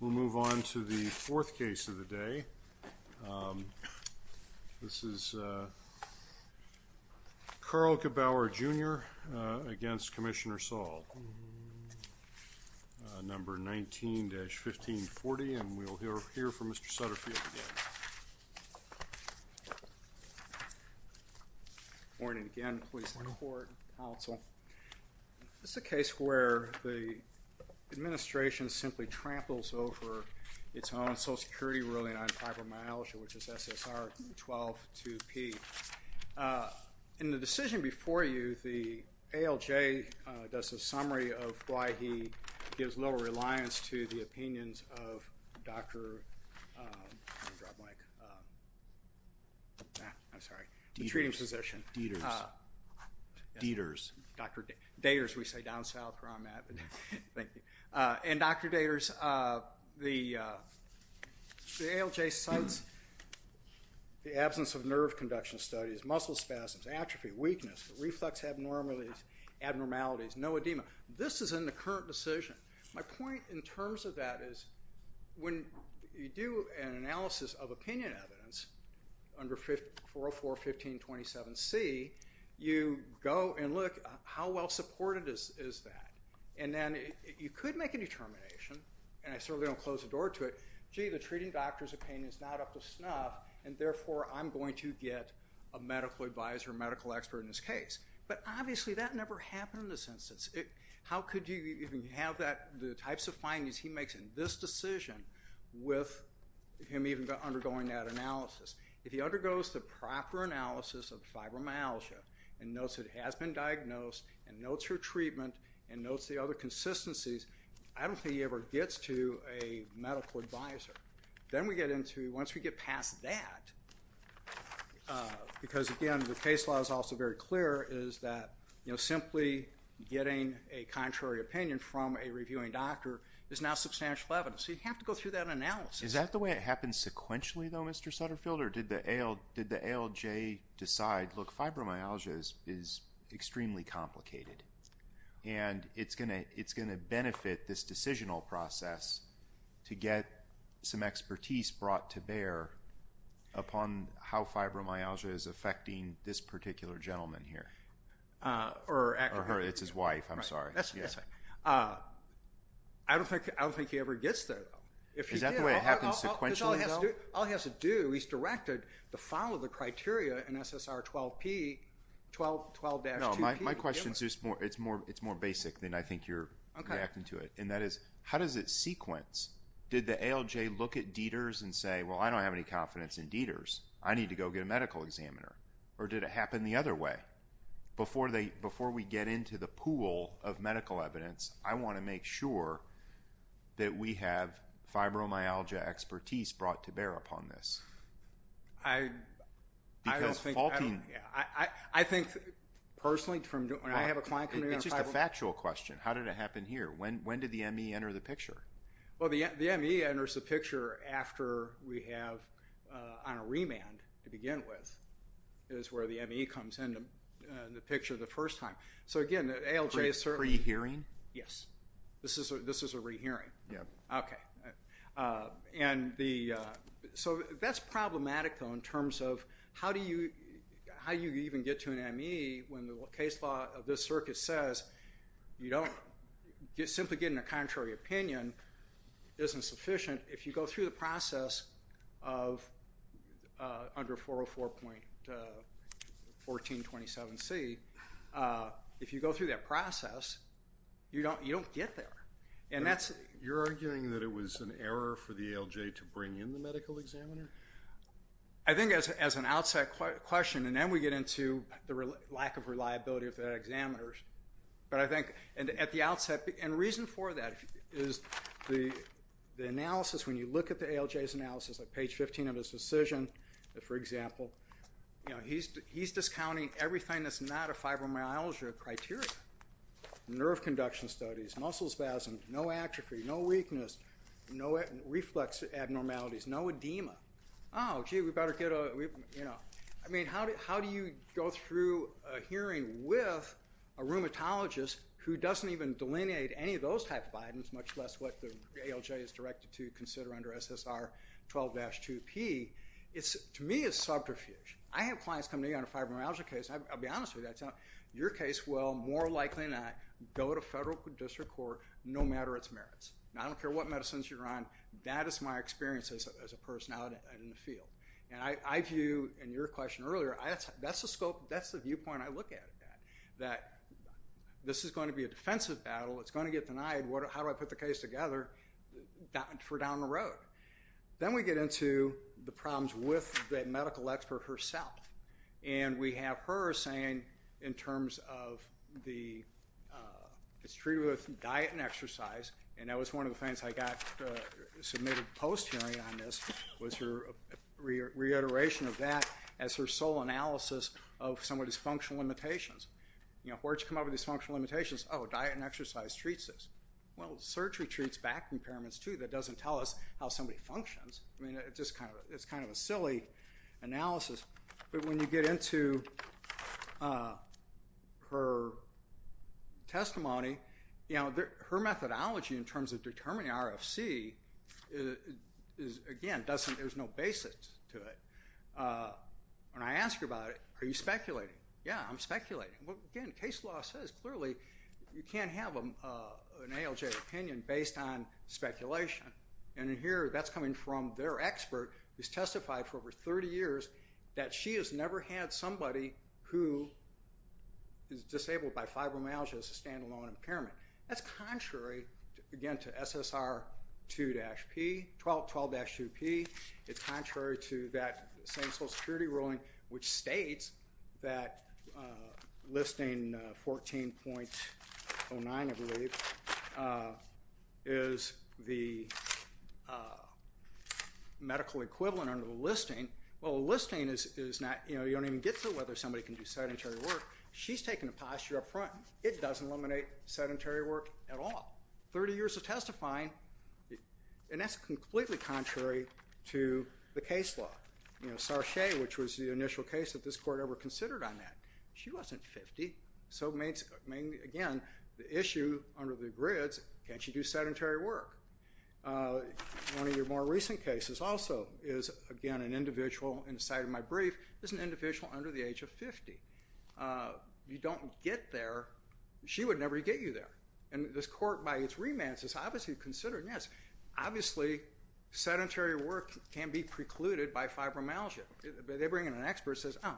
We'll move on to the fourth case of the day. This is Carl Gebauer, Jr. v. Commissioner Saul, number 19-1540, and we'll hear from Mr. Sutterfield again. This is a case where the administration simply tramples over its own Social Security ruling on fibromyalgia, which is SSR-12-2P. In the decision before you, the ALJ does a summary of why he gives little reliance to the opinions of Dr. Daters. The ALJ cites the absence of nerve conduction studies, muscle spasms, atrophy, weakness, reflux abnormalities, no edema. This is in the current decision. My point in terms of that is when you do an analysis of opinion evidence under 404-1527C, you go and look at how well supported is that. And then you could make a determination, and I certainly don't close the door to it, gee, the treating doctor's opinion is not up to snuff, and therefore I'm going to get a medical advisor, a medical expert in this case. But obviously that never happened in this instance. How could you even have the types of findings he makes in this decision with him even undergoing that analysis? If he undergoes the proper analysis of fibromyalgia and notes it has been diagnosed and notes her treatment and notes the other consistencies, I don't think he ever gets to a medical advisor. Then we get into, once we get past that, because again the case law is also very clear, is that simply getting a contrary opinion from a reviewing doctor is now substantial evidence. So you have to go through that analysis. Is that the way it happens sequentially though, Mr. Sutterfield, or did the ALJ decide, look, fibromyalgia is extremely complicated. And it's going to benefit this decisional process to get some expertise brought to bear upon how fibromyalgia is affecting this particular gentleman here. Or her, it's his wife, I'm sorry. I don't think he ever gets there though. Is that the way it happens sequentially? All he has to do, he's directed to follow the criteria in SSR 12-2P. No, my question is more basic than I think you're reacting to it. And that is, how does it sequence? Did the ALJ look at Dieters and say, well I don't have any confidence in Dieters, I need to go get a medical examiner. Or did it happen the other way? Before we get into the pool of medical evidence, I want to make sure that we have fibromyalgia expertise brought to bear upon this. I think, personally, when I have a client come in... It's just a factual question. How did it happen here? When did the ME enter the picture? Well, the ME enters the picture after we have, on a remand to begin with, is where the ME comes into the picture the first time. So again, ALJ is certainly... Pre-hearing? This is a re-hearing. Yep. Okay. So that's problematic, though, in terms of how you even get to an ME when the case law of this circuit says you don't... Simply getting a contrary opinion isn't sufficient. If you go through the process of under 404.1427C, if you go through that process, you don't get there. You're arguing that it was an error for the ALJ to bring in the medical examiner? I think, as an outset question, and then we get into the lack of reliability of the examiners. But I think, at the outset... And the reason for that is the analysis, when you look at the ALJ's analysis, at page 15 of his decision, for example, he's discounting everything that's not a fibromyalgia criteria. Nerve conduction studies, muscle spasms, no atrophy, no weakness, no reflex abnormalities, no edema. Oh, gee, we better get a... I mean, how do you go through a hearing with a rheumatologist who doesn't even delineate any of those type of items, much less what the ALJ is directed to consider under SSR 12-2P? To me, it's subterfuge. I have clients come to me on a fibromyalgia case. I'll be honest with you. Your case will more likely than not go to federal district court, no matter its merits. I don't care what medicines you're on. That is my experience as a person out in the field. And I view, in your question earlier, that's the scope, that's the viewpoint I look at. That this is going to be a defensive battle. It's going to get denied. How do I put the case together for down the road? Then we get into the problems with the medical expert herself. And we have her saying, in terms of the...it's treated with diet and exercise. And that was one of the things I got submitted post-hearing on this, was her reiteration of that as her sole analysis of some of these functional limitations. Where did you come up with these functional limitations? Oh, diet and exercise treats this. Well, surgery treats back impairments too. That doesn't tell us how somebody functions. I mean, it's kind of a silly analysis. But when you get into her testimony, her methodology in terms of determining RFC, again, there's no basics to it. When I ask her about it, are you speculating? Yeah, I'm speculating. Again, case law says, clearly, you can't have an ALJ opinion based on speculation. And here, that's coming from their expert, who's testified for over 30 years that she has never had somebody who is disabled by fibromyalgia as a stand-alone impairment. That's contrary, again, to SSR 2-P, 12-2P. It's contrary to that same Social Security ruling, which states that listing 14.09, I believe, is the medical equivalent under the listing. Well, the listing is not, you know, you don't even get to whether somebody can do sedentary work. She's taking a posture up front. It doesn't eliminate sedentary work at all. Thirty years of testifying, and that's completely contrary to the case law. You know, Sarche, which was the initial case that this court ever considered on that, she wasn't 50. So, again, the issue under the grids, can she do sedentary work? One of your more recent cases also is, again, an individual, in the site of my brief, is an individual under the age of 50. You don't get there. She would never get you there. And this court, by its remands, has obviously considered, yes, obviously, sedentary work can be precluded by fibromyalgia. They bring in an expert who says, oh,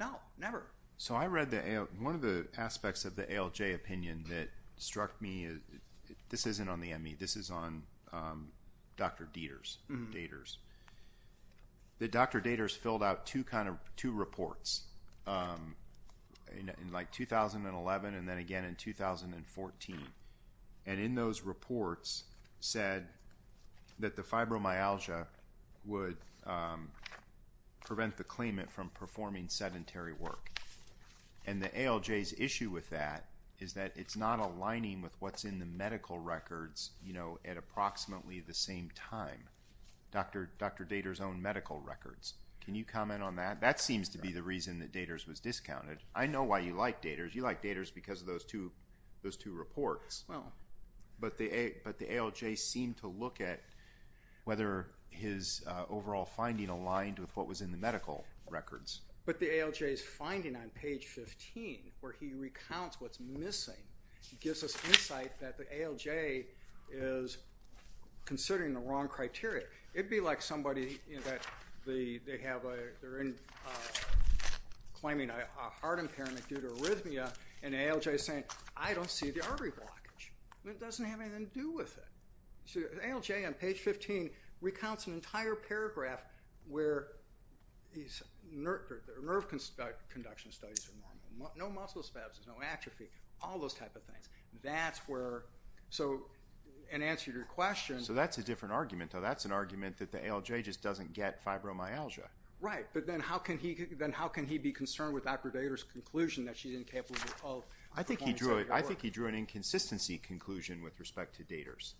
no, never. So I read one of the aspects of the ALJ opinion that struck me. This isn't on the ME. This is on Dr. Daters. The Dr. Daters filled out two reports in, like, 2011 and then again in 2014. And in those reports said that the fibromyalgia would prevent the claimant from performing sedentary work. And the ALJ's issue with that is that it's not aligning with what's in the medical records, you know, at approximately the same time, Dr. Daters' own medical records. Can you comment on that? That seems to be the reason that Daters was discounted. I know why you like Daters. You like Daters because of those two reports. But the ALJ seemed to look at whether his overall finding aligned with what was in the medical records. But the ALJ's finding on page 15, where he recounts what's missing, gives us insight that the ALJ is considering the wrong criteria. It would be like somebody that they're claiming a heart impairment due to arrhythmia, and the ALJ is saying, I don't see the artery blockage. It doesn't have anything to do with it. The ALJ on page 15 recounts an entire paragraph where nerve conduction studies are normal, no muscle spasms, no atrophy, all those type of things. That's where, so in answer to your question. So that's a different argument, though. That's an argument that the ALJ just doesn't get fibromyalgia. Right. But then how can he be concerned with Dr. Daters' conclusion that she's incapable of performing CPR? I think he drew an inconsistency conclusion with respect to Daters.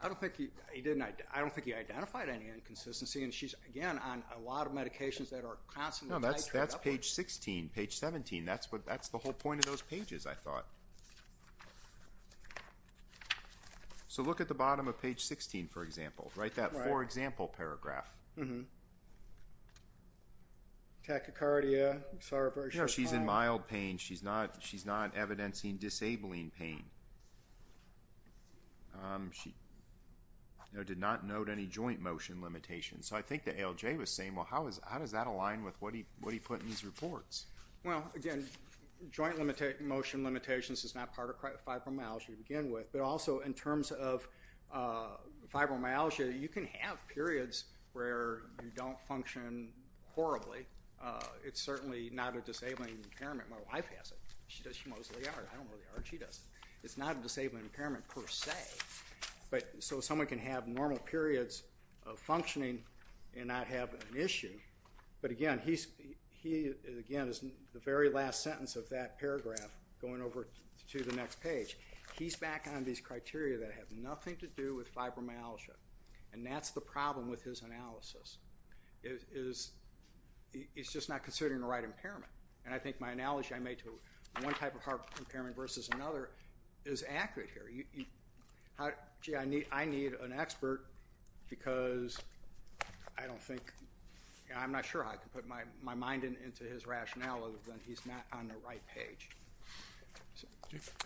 I don't think he identified any inconsistency. And she's, again, on a lot of medications that are constantly being tried up on. No, that's page 16, page 17. That's the whole point of those pages, I thought. So look at the bottom of page 16, for example. Write that for example paragraph. Tachycardia. No, she's in mild pain. She's not evidencing disabling pain. She did not note any joint motion limitations. So I think the ALJ was saying, well, how does that align with what he put in his reports? Well, again, joint motion limitations is not part of fibromyalgia to begin with. But also, in terms of fibromyalgia, you can have periods where you don't function horribly. It's certainly not a disabling impairment. My wife has it. She knows the art. I don't know the art. She does it. It's not a disabling impairment per se. So someone can have normal periods of functioning and not have an issue. But again, the very last sentence of that paragraph, going over to the next page, he's back on these criteria that have nothing to do with fibromyalgia. And that's the problem with his analysis. It's just not considering the right impairment. And I think my analogy I made to one type of heart impairment versus another is accurate here. Gee, I need an expert because I'm not sure I can put my mind into his rationale other than he's not on the right page.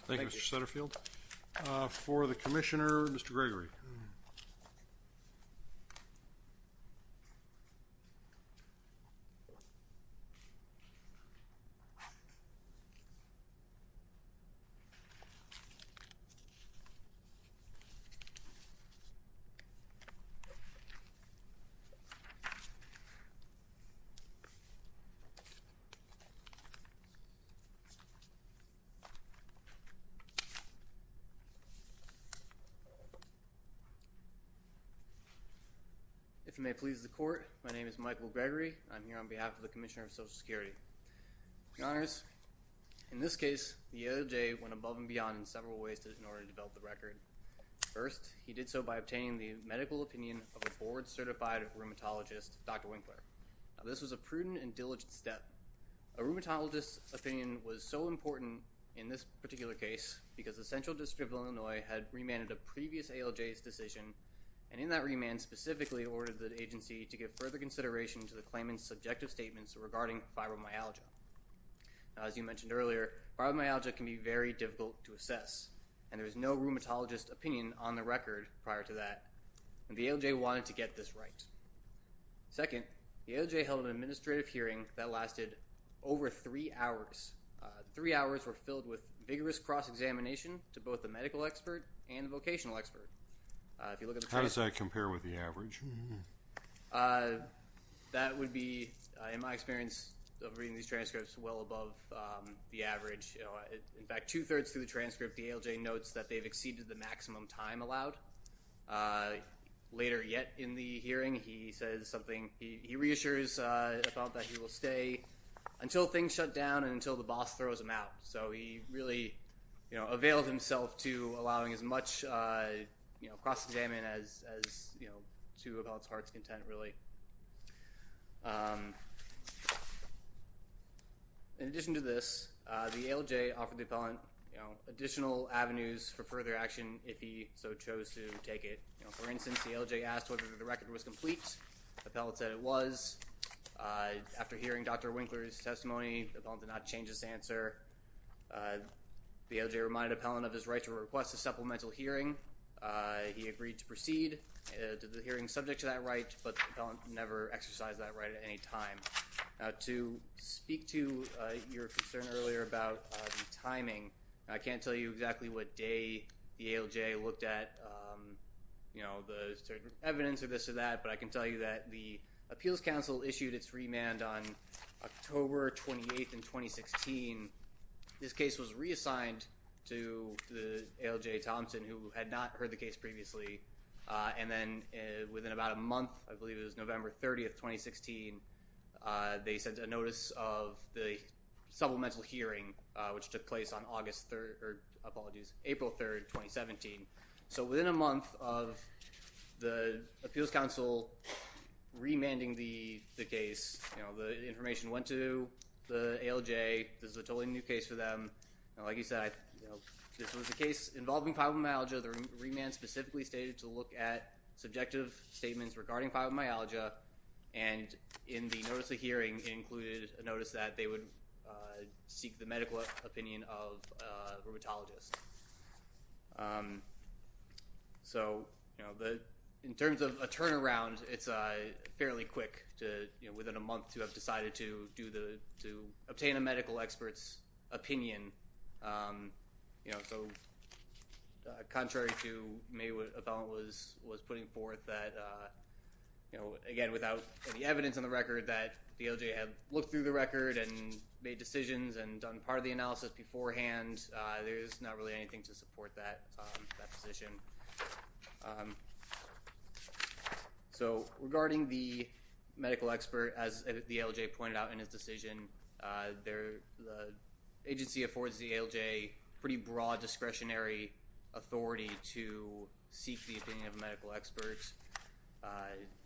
Thank you, Mr. Sutterfield. For the commissioner, Mr. Gregory. If you may please the court, my name is Michael Gregory. I'm here on behalf of the Commissioner of Social Security. Your Honors, in this case, the ALJ went above and beyond in several ways in order to develop the record. First, he did so by obtaining the medical opinion of a board-certified rheumatologist, Dr. Winkler. This was a prudent and diligent step. A rheumatologist's opinion was so important in this particular case because the Central District of Illinois had remanded a previous ALJ's decision, and in that remand specifically ordered the agency to give further consideration to the claimant's subjective statements regarding fibromyalgia. As you mentioned earlier, fibromyalgia can be very difficult to assess, and there was no rheumatologist opinion on the record prior to that. And the ALJ wanted to get this right. Second, the ALJ held an administrative hearing that lasted over three hours. Three hours were filled with vigorous cross-examination to both the medical expert and the vocational expert. How does that compare with the average? That would be, in my experience of reading these transcripts, well above the average. In fact, two-thirds through the transcript, the ALJ notes that they've exceeded the maximum time allowed. Later yet in the hearing, he says something. He reassures about that he will stay until things shut down and until the boss throws him out. So he really availed himself to allowing as much cross-examination as to a appellate's heart's content, really. In addition to this, the ALJ offered the appellant additional avenues for further action if he so chose to take it. For instance, the ALJ asked whether the record was complete. The appellate said it was. After hearing Dr. Winkler's testimony, the appellant did not change his answer. The ALJ reminded the appellant of his right to request a supplemental hearing. He agreed to proceed. The hearing is subject to that right, but the appellant never exercised that right at any time. Now, to speak to your concern earlier about timing, I can't tell you exactly what day the ALJ looked at, you know, the evidence or this or that, but I can tell you that the Appeals Council issued its remand on October 28th in 2016. This case was reassigned to the ALJ Thompson, who had not heard the case previously, and then within about a month, I believe it was November 30th, 2016, they sent a notice of the supplemental hearing, which took place on April 3rd, 2017. So within a month of the Appeals Council remanding the case, you know, the information went to the ALJ. This is a totally new case for them. Like you said, this was a case involving fibromyalgia. The remand specifically stated to look at subjective statements regarding fibromyalgia, and in the notice of hearing, it included a notice that they would seek the medical opinion of a rheumatologist. So, you know, in terms of a turnaround, it's fairly quick to, you know, within a month to have decided to obtain a medical expert's opinion. You know, so contrary to maybe what Ethel was putting forth, that, you know, again, without any evidence on the record that the ALJ had looked through the record and made decisions and done part of the analysis beforehand, there's not really anything to support that position. So regarding the medical expert, as the ALJ pointed out in its decision, the agency affords the ALJ pretty broad discretionary authority to seek the opinion of a medical expert.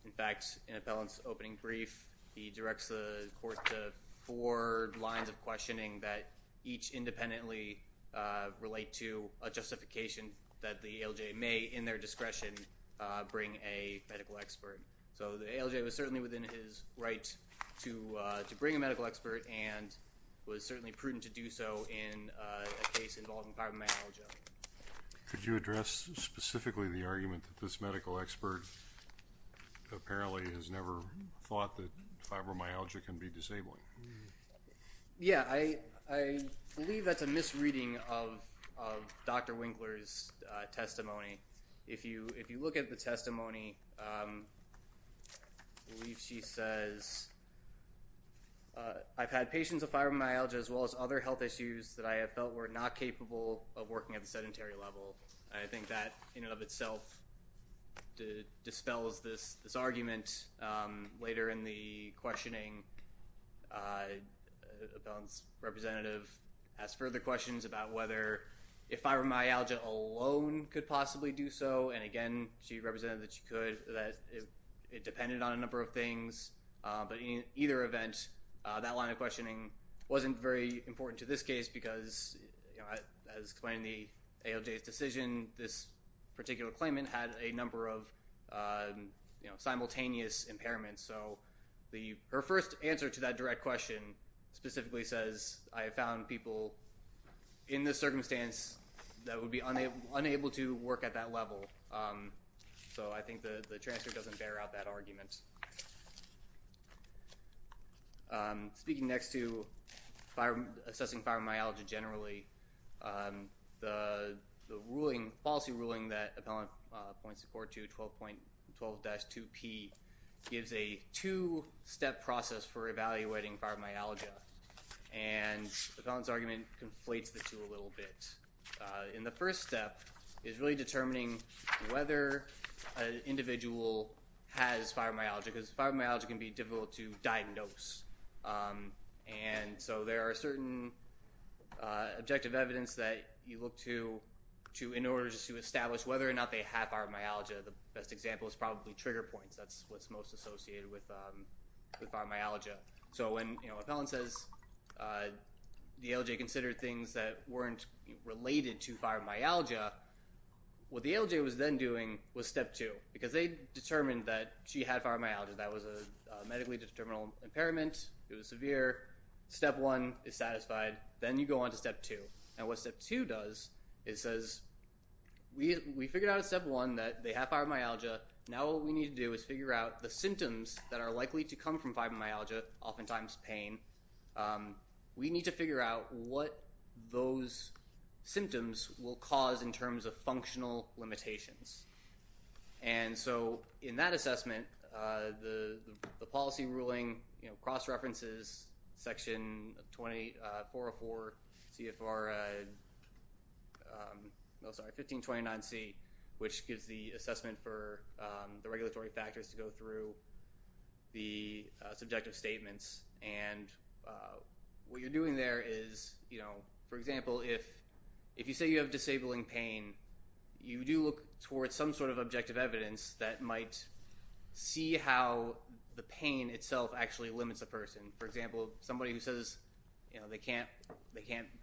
In fact, in Appellant's opening brief, he directs the court to four lines of questioning that each independently relate to a justification that the ALJ may, in their discretion, bring a medical expert. So the ALJ was certainly within his right to bring a medical expert and was certainly prudent to do so in a case involving fibromyalgia. Could you address specifically the argument that this medical expert apparently has never thought that fibromyalgia can be disabling? Yeah, I believe that's a misreading of Dr. Winkler's testimony. If you look at the testimony, I believe she says, I've had patients with fibromyalgia as well as other health issues that I have felt were not capable of working at the sedentary level. I think that in and of itself dispels this argument. Later in the questioning, Appellant's representative asked further questions about whether fibromyalgia alone could possibly do so. And again, she represented that she could, that it depended on a number of things. But in either event, that line of questioning wasn't very important to this case because, as explained in the ALJ's decision, this particular claimant had a number of simultaneous impairments. Her first answer to that direct question specifically says, I have found people in this circumstance that would be unable to work at that level. So I think the transfer doesn't bear out that argument. Speaking next to assessing fibromyalgia generally, the policy ruling that Appellant points to, Part 2, 12.12-2P, gives a two-step process for evaluating fibromyalgia. And Appellant's argument conflates the two a little bit. In the first step is really determining whether an individual has fibromyalgia, because fibromyalgia can be difficult to diagnose. And so there are certain objective evidence that you look to in order to establish whether or not they have fibromyalgia. The best example is probably trigger points. That's what's most associated with fibromyalgia. So when Appellant says the ALJ considered things that weren't related to fibromyalgia, what the ALJ was then doing was Step 2, because they determined that she had fibromyalgia. That was a medically determinable impairment. It was severe. Step 1 is satisfied. Then you go on to Step 2. And what Step 2 does is says we figured out at Step 1 that they have fibromyalgia. Now what we need to do is figure out the symptoms that are likely to come from fibromyalgia, oftentimes pain. We need to figure out what those symptoms will cause in terms of functional limitations. And so in that assessment, the policy ruling cross-references Section 404 CFR 1529C, which gives the assessment for the regulatory factors to go through the subjective statements. And what you're doing there is, for example, if you say you have disabling pain, you do look towards some sort of objective evidence that might see how the pain itself actually limits a person. For example, somebody who says they can't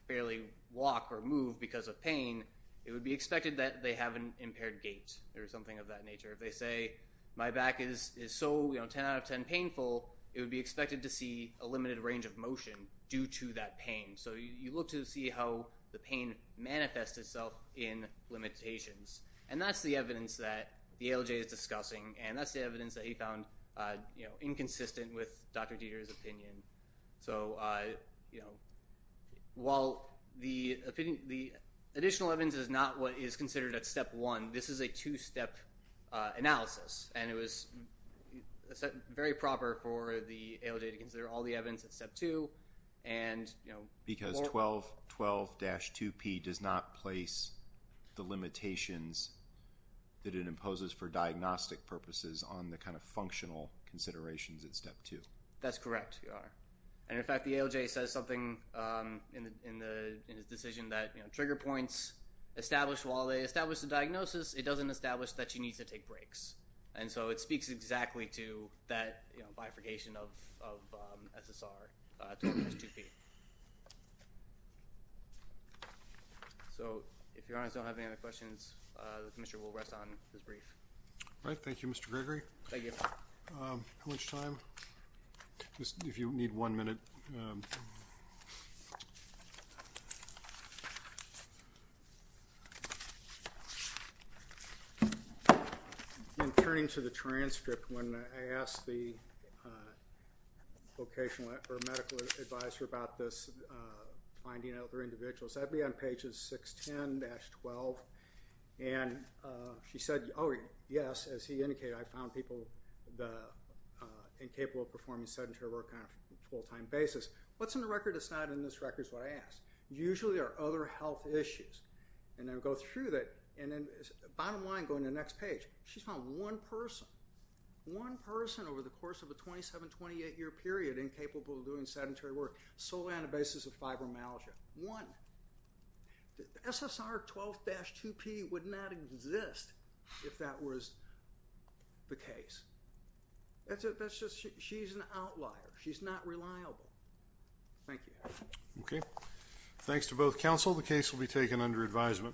barely walk or move because of pain, it would be expected that they have an impaired gait or something of that nature. If they say my back is so 10 out of 10 painful, it would be expected to see a limited range of motion due to that pain. So you look to see how the pain manifests itself in limitations. And that's the evidence that the ALJ is discussing, and that's the evidence that he found inconsistent with Dr. Dieter's opinion. So while the additional evidence is not what is considered at Step 1, this is a two-step analysis, and it was very proper for the ALJ to consider all the evidence at Step 2. Because 12-2P does not place the limitations that it imposes for diagnostic purposes on the kind of functional considerations at Step 2. That's correct. And, in fact, the ALJ says something in his decision that trigger points, while they establish the diagnosis, it doesn't establish that she needs to take breaks. And so it speaks exactly to that bifurcation of SSR 12-2P. So if your Honors don't have any other questions, the Commissioner will rest on his brief. All right. Thank you, Mr. Gregory. Thank you. How much time? If you need one minute. In turning to the transcript, when I asked the vocational or medical advisor about this finding of other individuals, that would be on pages 610-12. And she said, oh, yes, as he indicated, I found people incapable of performing sedentary work on a full-time basis. What's in the record that's not in this record is what I asked. Usually there are other health issues. And I would go through that. And then bottom line, going to the next page, she found one person, one person over the course of a 27-, 28-year period incapable of doing sedentary work solely on the basis of fibromyalgia. One. SSR 12-2P would not exist if that was the case. That's just she's an outlier. She's not reliable. Thank you. Okay. Thanks to both counsel. The case will be taken under advisement.